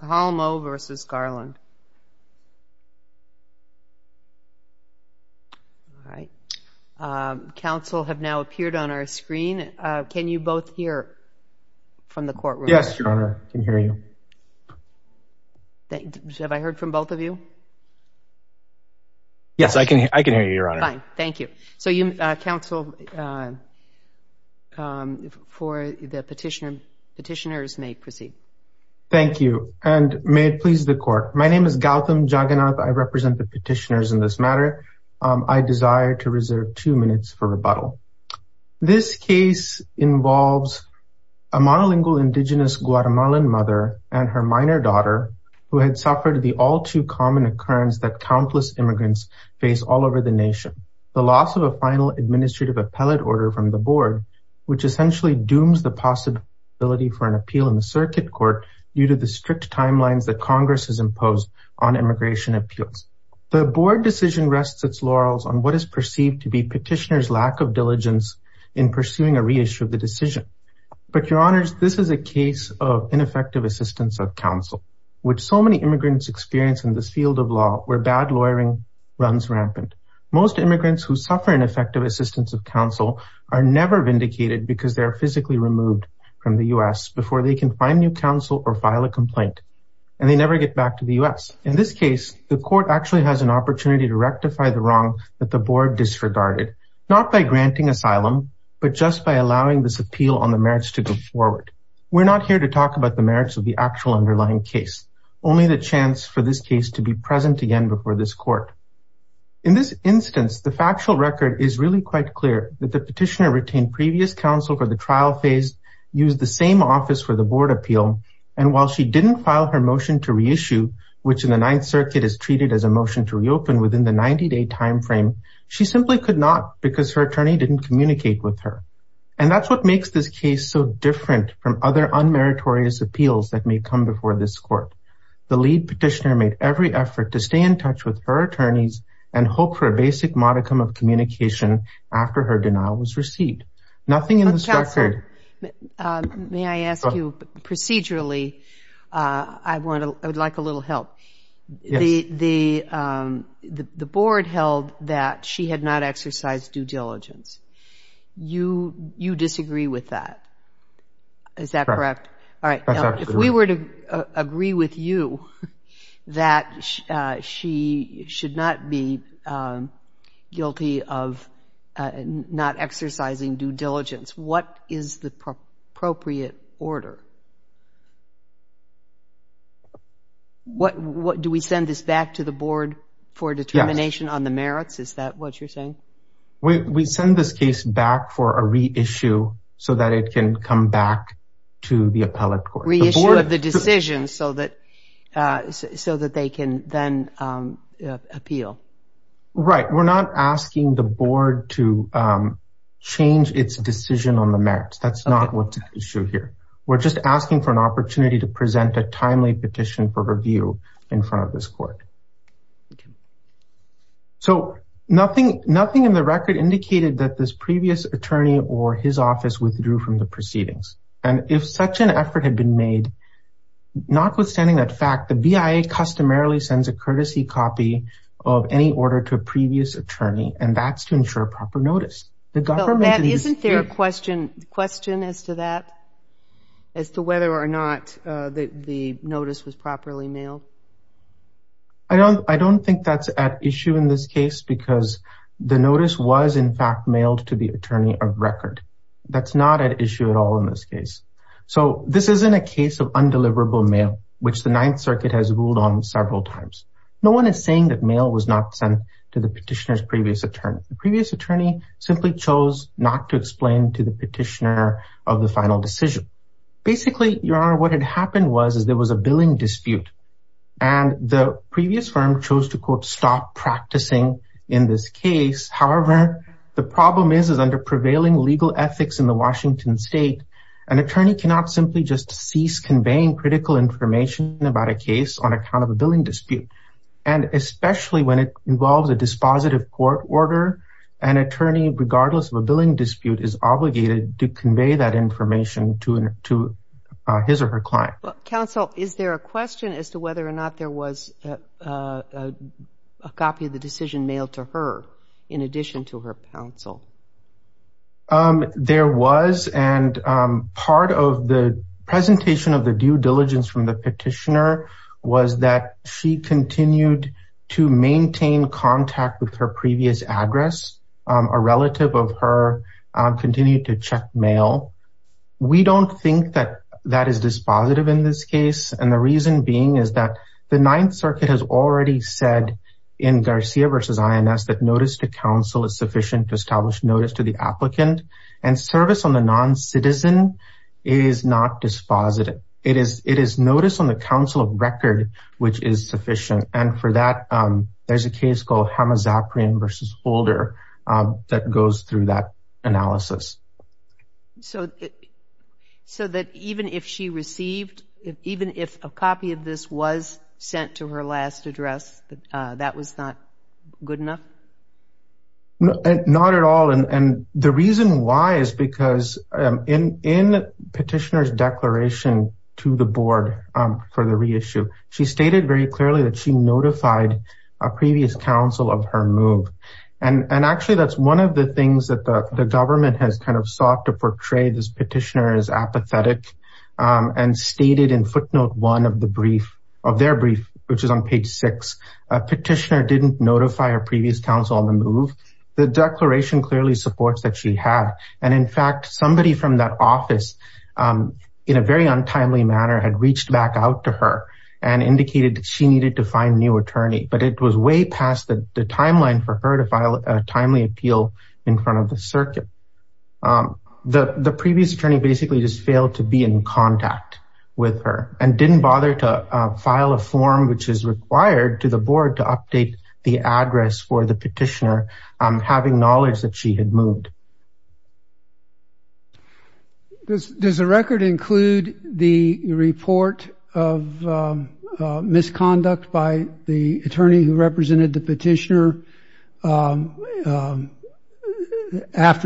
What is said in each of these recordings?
Calmo v. Garland Council have now appeared on our screen. Can you both hear from the courtroom? Yes, Your Honor, we can hear you. Have I heard from both of you? Yes, I can hear you, Your Honor. Fine, thank you. So you, Council, for the petitioner, petitioners may proceed. Thank you, and may it please the court. My name is Gautam Jagannath. I represent the petitioners in this matter. I desire to reserve two minutes for rebuttal. This case involves a monolingual indigenous Guatemalan mother and her minor daughter who had suffered the all too common occurrence that countless immigrants face all over the nation. The loss of a final administrative appellate order from the board, which essentially dooms the possibility for an appeal in the circuit court due to the strict timelines that Congress has imposed on immigration appeals. The board decision rests its laurels on what is perceived to be petitioners lack of diligence in pursuing a reissue of the decision. But Your Honors, this is a case of ineffective assistance of counsel, which so many immigrants experience in this field of law where bad lawyering runs rampant. Most immigrants who suffer ineffective assistance of counsel are never vindicated because they're physically removed from the US before they can find new counsel or file a complaint. And they never get back to the US. In this case, the court actually has an opportunity to rectify the wrong that the board disregarded, not by granting asylum, but just by allowing this appeal on the merits to go forward. We're not here to talk about the merits of the actual underlying case, only the chance for this case to be present again before this court. In this instance, the factual record is really quite clear that the petitioner retained previous counsel for the trial phase, used the same office for the board appeal. And while she didn't file her motion to reissue, which in the Ninth Circuit is treated as a motion to reopen within the 90 day timeframe, she simply could not because her attorney didn't communicate with her. And that's what makes this case so different from other unmeritorious appeals that may come before this court. The lead petitioner made every effort to stay in touch with her attorneys and hope for a basic modicum of communication after her denial was received. Nothing in this record... But Counselor, may I ask you procedurally, I would like a little help. The board held that she had not exercised due diligence. You disagree with that. Is that correct? Correct. All right. Now, if we were to agree with you that she should not be guilty of not exercising due diligence, what is the appropriate order? Do we send this back to the board for determination on the merits? Is that what you're saying? We send this case back for a reissue so that it can come back to the appellate court. Reissue of the decision so that they can then appeal. Right. We're not asking the board to change its decision on the merits. That's not what's at issue here. We're just asking for an opportunity to present a timely petition for review in front of this court. So nothing in the record indicated that this previous attorney or his office withdrew from the case. Notwithstanding that fact, the BIA customarily sends a courtesy copy of any order to a previous attorney, and that's to ensure proper notice. Isn't there a question as to that, as to whether or not the notice was properly mailed? I don't think that's at issue in this case because the notice was, in fact, mailed to the attorney of record. That's not at issue at all in this case. So this isn't a case of undeliverable mail, which the Ninth Circuit has ruled on several times. No one is saying that mail was not sent to the petitioner's previous attorney. The previous attorney simply chose not to explain to the petitioner of the final decision. Basically, Your Honor, what had happened was there was a billing dispute, and the previous firm chose to, quote, stop practicing in this case. However, the problem is, is that a prevailing legal ethics in the Washington State, an attorney cannot simply just cease conveying critical information about a case on account of a billing dispute. And especially when it involves a dispositive court order, an attorney, regardless of a billing dispute, is obligated to convey that information to his or her client. Counsel, is there a question as to whether or not there was a copy of the decision mailed to her in addition to her counsel? There was. And part of the presentation of the due diligence from the petitioner was that she continued to maintain contact with her previous address. A relative of her continued to check mail. We don't think that that is dispositive in this case. And the reason being is that the Ninth Circuit has already said in Garcia v. INS that notice to the applicant and service on the non-citizen is not dispositive. It is it is notice on the counsel of record, which is sufficient. And for that, there's a case called Hamazapriam v. Holder that goes through that analysis. So, so that even if she received, even if a copy of this was sent to her last address, that was not good enough? Not at all. And the reason why is because in petitioner's declaration to the board for the reissue, she stated very clearly that she notified a previous counsel of her move. And actually, that's one of the things that the government has kind of sought to portray this petitioner as apathetic and stated in footnote one of the brief of their brief, which is on page six, a petitioner didn't notify her previous counsel on the move. The declaration clearly supports that she had. And in fact, somebody from that office, in a very untimely manner had reached back out to her and indicated she needed to find new attorney, but it was way past the timeline for her to file a timely appeal in front of the circuit. The previous attorney basically just failed to be in contact with her and didn't bother to file a form which is required to the board to update the address for the petitioner having knowledge that she had moved. Does the record include the report of misconduct by the attorney who represented the petitioner after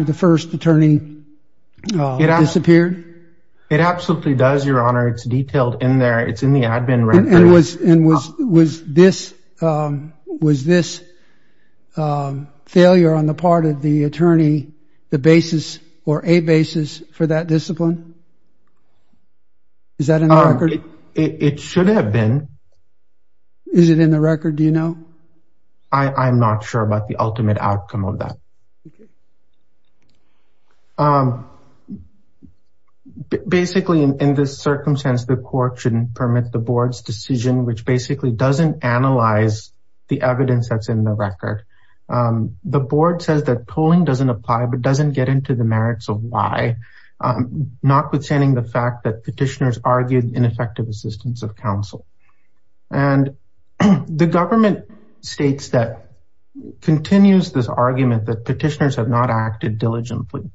the first attorney disappeared? It absolutely does, Your Honor. It's detailed in there. It's in the admin record. And was this failure on the part of the attorney the basis or a basis for that discipline? Is that in the record? It should have been. Is it in the record, do you know? I'm not sure about the ultimate outcome of that. Basically, in this circumstance, the court shouldn't permit the board's decision, which basically doesn't analyze the evidence that's in the record. The board says that polling doesn't apply but doesn't get into the merits of why, notwithstanding the fact that petitioners argued ineffective assistance of counsel. And the government states that continues this argument that petitioners have not acted diligently.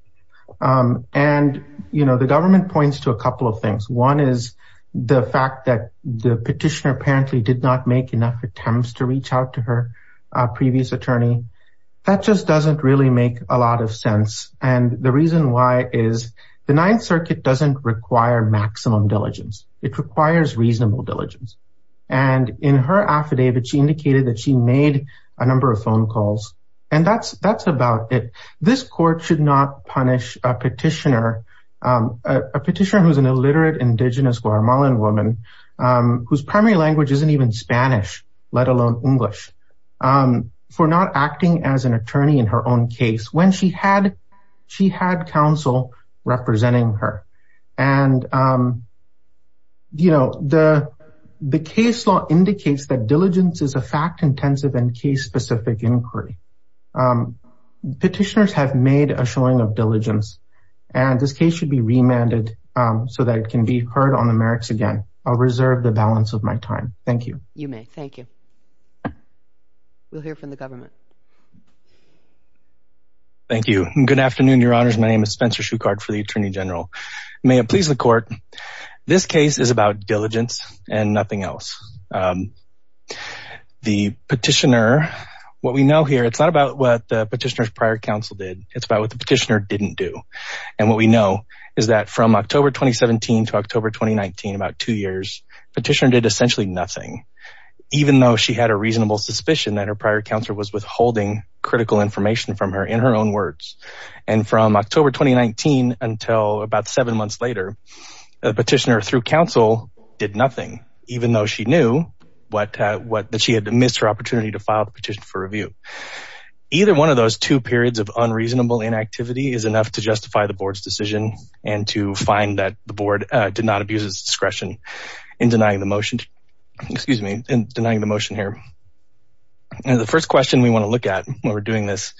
And, you know, this argument points to a couple of things. One is the fact that the petitioner apparently did not make enough attempts to reach out to her previous attorney. That just doesn't really make a lot of sense. And the reason why is the Ninth Circuit doesn't require maximum diligence, it requires reasonable diligence. And in her affidavit, she indicated that she made a number of phone calls. And that's about it. This court should not punish a petitioner, a petitioner who's an illiterate indigenous Guatemalan woman, whose primary language isn't even Spanish, let alone English, for not acting as an attorney in her own case when she had counsel representing her. And, you know, the case law indicates that diligence is a fact intensive and case specific inquiry. Petitioners have made a showing of diligence, and this case should be remanded so that it can be heard on the merits again. I'll reserve the balance of my time. Thank you. You may. Thank you. We'll hear from the government. Thank you. Good afternoon, Your Honors. My name is Spencer Shukart for the Attorney General. May it please the petitioner. What we know here, it's not about what the petitioner's prior counsel did. It's about what the petitioner didn't do. And what we know is that from October 2017 to October 2019, about two years, petitioner did essentially nothing, even though she had a reasonable suspicion that her prior counselor was withholding critical information from her in her own words. And from October 2019, until about seven months later, the petitioner through counsel did nothing, even though she knew that she had missed her opportunity to file the petition for review. Either one of those two periods of unreasonable inactivity is enough to justify the board's decision and to find that the board did not abuse its discretion in denying the motion. Excuse me, in denying the motion here. And the first question we want to look at when we're doing this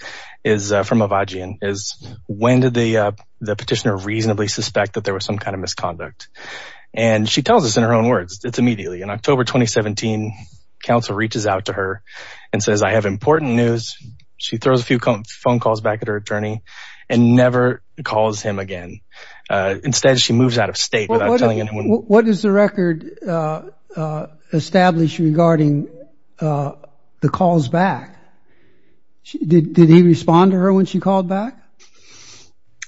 is from Avajian is when did the petitioner reasonably suspect that there was some kind of misconduct? And she tells us in her own words, it's immediately in October 2017, counsel reaches out to her and says, I have important news. She throws a few phone calls back at her attorney and never calls him again. Instead, she moves out of state without telling anyone. What is the record established regarding the calls back? Did he respond to her when she called back?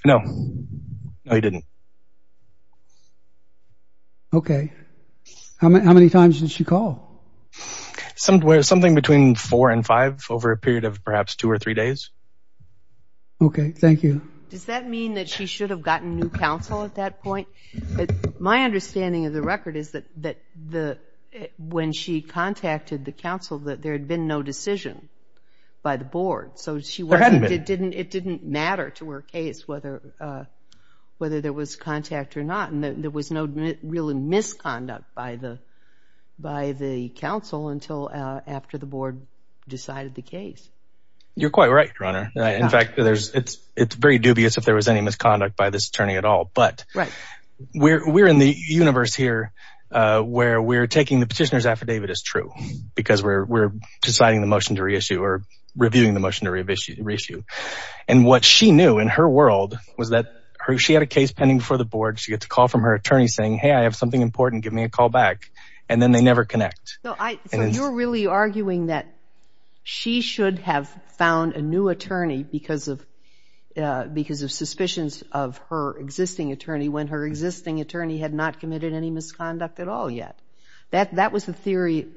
No, he didn't. Okay. How many times did she call? Something between four and five over a period of perhaps two or three days. Okay. Thank you. Does that mean that she should have gotten new counsel at that point? My understanding of the record is that when she contacted the counsel, that there had been no decision by the board. So it didn't matter to her case whether there was contact or not. And there was no real misconduct by the counsel until after the board decided the case. You're quite right, Your Honor. In fact, it's very dubious if there was any misconduct by this attorney at all. But we're in the universe here where we're taking the petitioner's affidavit as true because we're deciding the motion to reissue or reviewing the motion to reissue. And what she knew in her world was that she had a case pending before the board. She got a call from her attorney saying, hey, I have something important. Give me a call back. And then they never connect. So you're really arguing that she should have found a new attorney because of suspicions of her existing attorney when her existing attorney had not committed any misconduct at all yet. That was the theory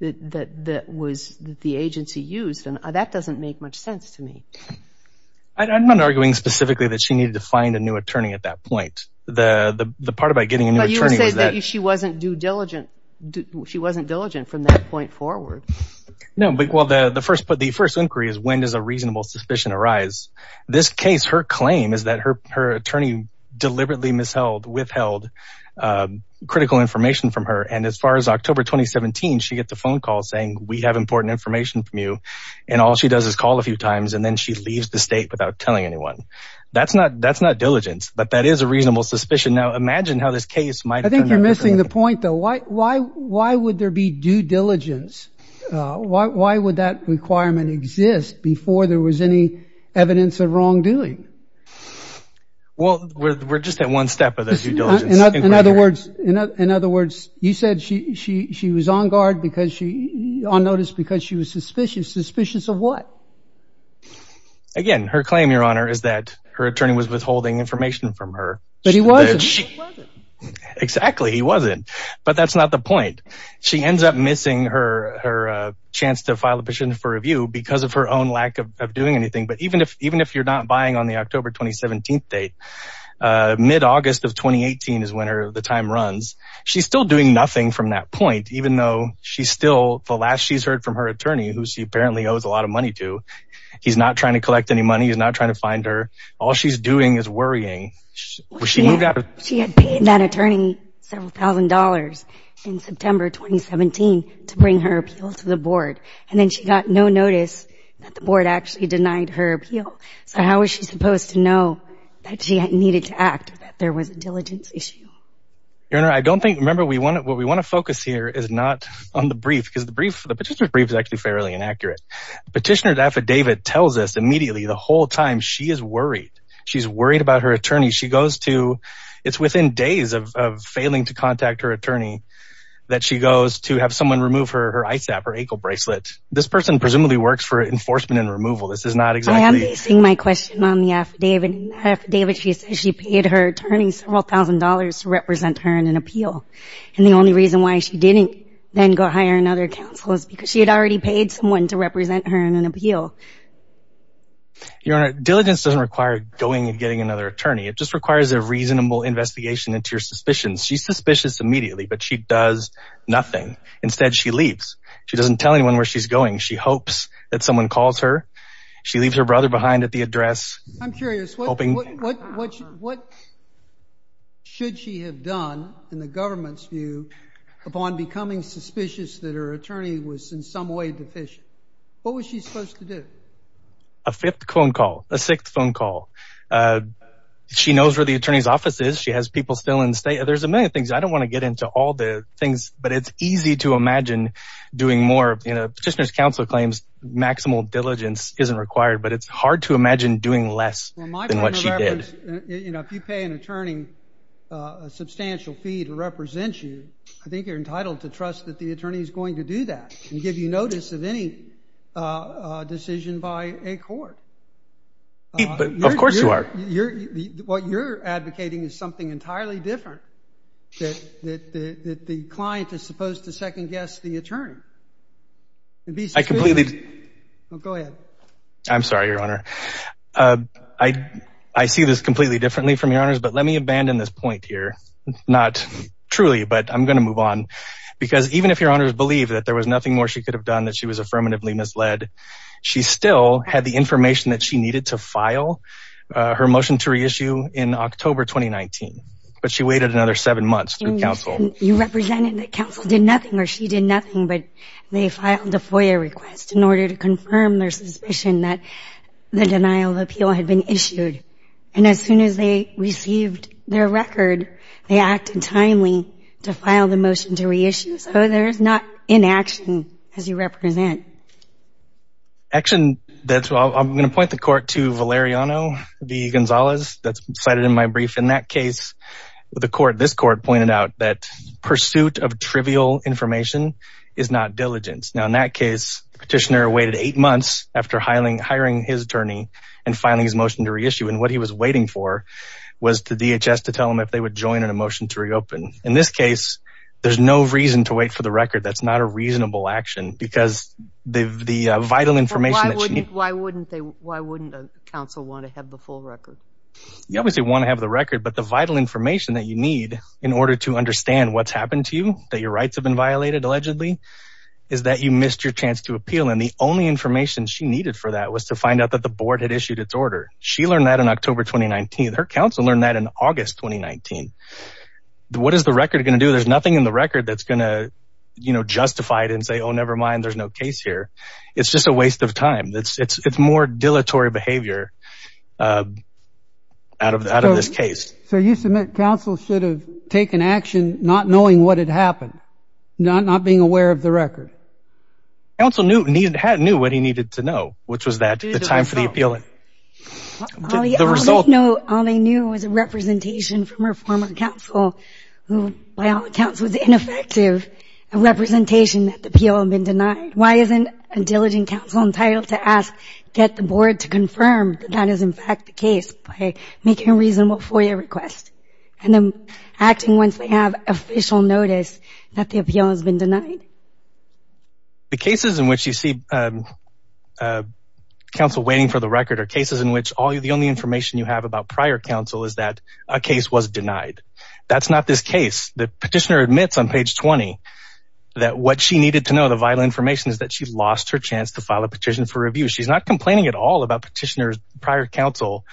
that was the agency used. And that doesn't make much sense to me. I'm not arguing specifically that she needed to find a new attorney at that point. The part about getting a new attorney was that she wasn't due diligent. She wasn't diligent from that point forward. No. Well, the first inquiry is when does a reasonable suspicion arise? This case, her claim is that her attorney deliberately withheld critical information from her. And as far as October 2017, she gets a phone call saying, we have important information from you. And all she does is call a few times and then she leaves the state without telling anyone. That's not diligence, but that is a reasonable suspicion. Now, imagine how this case might. I think you're missing the point, though. Why would there be due diligence? Why would that requirement exist before there was any evidence of wrongdoing? Well, we're just at one step of the due diligence. In other words, you said she was on guard because she on notice because she was suspicious. Suspicious of what? Again, her claim, Your Honor, is that her attorney was withholding information from her. But he wasn't. Exactly. He wasn't. But that's not the point. She ends up missing her chance to file a petition for review because of her own lack of doing anything. But even if you're not buying on October 2017 date, mid-August of 2018 is when the time runs. She's still doing nothing from that point, even though she's still the last she's heard from her attorney, who she apparently owes a lot of money to. He's not trying to collect any money. He's not trying to find her. All she's doing is worrying. She had paid that attorney several thousand dollars in September 2017 to bring her appeal to the board, and then she got no notice that the board actually denied her appeal. So how is she supposed to know that she needed to act? There was a diligence issue. Your Honor, I don't think, remember, what we want to focus here is not on the brief because the petitioner's brief is actually fairly inaccurate. Petitioner's affidavit tells us immediately the whole time she is worried. She's worried about her attorney. She goes to, it's within days of failing to contact her attorney, that she goes to have someone remove her ISAP, her ankle bracelet. This person presumably works for enforcement and removal. I am basing my question on the affidavit. She said she paid her attorney several thousand dollars to represent her in an appeal. And the only reason why she didn't then go hire another counsel is because she had already paid someone to represent her in an appeal. Your Honor, diligence doesn't require going and getting another attorney. It just requires a reasonable investigation into your suspicions. She's suspicious immediately, but she does nothing. Instead, she leaves. She doesn't tell anyone where she's going. She hopes that she leaves her brother behind at the address. I'm curious, what should she have done in the government's view upon becoming suspicious that her attorney was in some way deficient? What was she supposed to do? A fifth phone call, a sixth phone call. She knows where the attorney's office is. She has people still in state. There's a million things. I don't want to get into all the things, but it's easy to imagine doing more. Petitioner's counsel claims maximal diligence isn't required, but it's hard to imagine doing less than what she did. You know, if you pay an attorney a substantial fee to represent you, I think you're entitled to trust that the attorney is going to do that and give you notice of any decision by a court. Of course you are. What you're advocating is something entirely different, that the client is supposed to second guess the attorney. To be completely, go ahead. I'm sorry, your honor. I see this completely differently from your honors, but let me abandon this point here. Not truly, but I'm going to move on because even if your honors believe that there was nothing more she could have done, that she was affirmatively misled, she still had the information that she needed to file her motion to reissue in October 2019, but she waited another seven months through counsel. You represented that counsel did nothing or she did nothing, but they filed a FOIA request in order to confirm their suspicion that the denial of appeal had been issued. And as soon as they received their record, they acted timely to file the motion to reissue. So there's not inaction as you represent. Action. That's what I'm going to point the court to Valeriano V. Gonzalez that's cited in my brief. In that case, the court, this court pointed out that pursuit of trivial information is not diligence. Now, in that case, the petitioner waited eight months after hiring his attorney and filing his motion to reissue. And what he was waiting for was the DHS to tell him if they would join in a motion to reopen. In this case, there's no reason to wait for the record. That's not a reasonable action because the vital information. Why wouldn't they? Why wouldn't counsel want to have the full record? You obviously want to have the record, but the vital information that you need in order to understand what's that your rights have been violated, allegedly, is that you missed your chance to appeal. And the only information she needed for that was to find out that the board had issued its order. She learned that in October 2019. Her counsel learned that in August 2019. What is the record going to do? There's nothing in the record that's going to, you know, justify it and say, oh, never mind. There's no case here. It's just a waste of time. That's it's it's more dilatory behavior out of out of this case. So you submit counsel should have taken action not knowing what had happened, not not being aware of the record. Counsel knew he had knew what he needed to know, which was that the time for the appeal. The result. No. All they knew was a representation from her former counsel who, by all accounts, was ineffective, a representation that the appeal had been denied. Why isn't a diligent counsel entitled to ask, get the board to confirm that that is, in fact, the case by making a reasonable FOIA request and then acting once they have official notice that the appeal has been denied? The cases in which you see counsel waiting for the record are cases in which all the only information you have about prior counsel is that a case was denied. That's not this case. The petitioner admits on page 20 that what she needed to know the vital information is that she lost her chance to file a petition for review. She's not complaining at all about petitioners prior counsel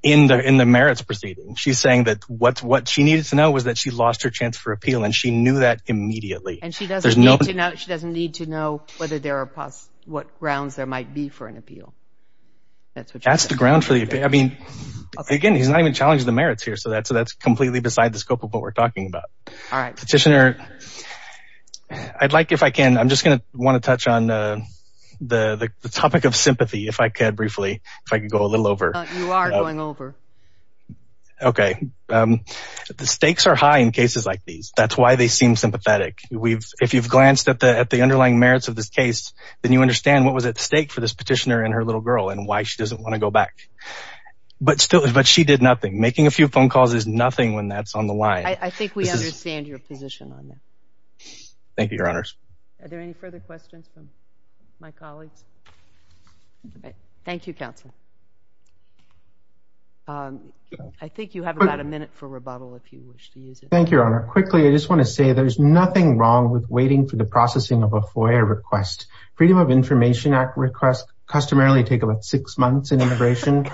in the in the merits proceeding. She's saying that what what she needed to know was that she lost her chance for appeal, and she knew that immediately. And she doesn't need to know. She doesn't need to know whether there are what grounds there might be for an appeal. That's what that's the ground for. I mean, again, he's not even challenged the merits here. So that's completely beside the scope of what we're talking about. All right, petitioner, I'd like if I can, I'm just going to want to touch on the topic of sympathy if I could briefly, if I could go a little over. You are going over. Okay, the stakes are high in cases like these. That's why they seem sympathetic. We've if you've glanced at the underlying merits of this case, then you understand what was at stake for this petitioner and her little girl and why she doesn't want to go back. But still, but she did nothing. Making a few phone calls is nothing when that's on the line. I think we understand your position on that. Thank you, Your Honors. Are there any further questions from my colleagues? Thank you, counsel. I think you have about a minute for rebuttal if you wish to use it. Thank you, Your Honor. Quickly, I just want to say there's nothing wrong with waiting for the processing of a FOIA request. Freedom of Information Act requests customarily take about six months in immigration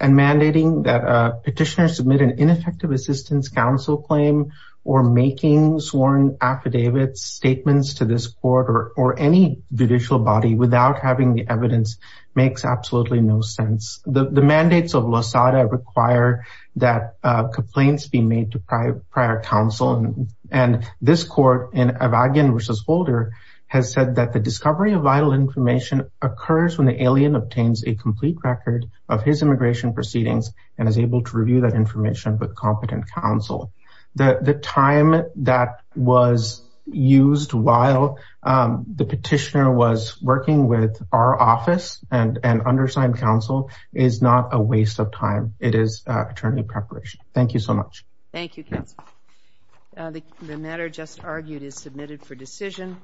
and mandating that a petitioner submit an ineffective assistance counsel claim or making sworn affidavit statements to this court or any judicial body without having the evidence makes absolutely no sense. The mandates of Losada require that complaints be made to prior counsel. And this court in Avagin v. Holder has said that the discovery of vital information occurs when the alien obtains a complete record of his immigration proceedings and is able to review that information with competent counsel. The time that was used while the petitioner was working with our office and undersigned counsel is not a waste of time. It is attorney preparation. Thank you so much. Thank you, counsel. The matter just argued is submitted for decision.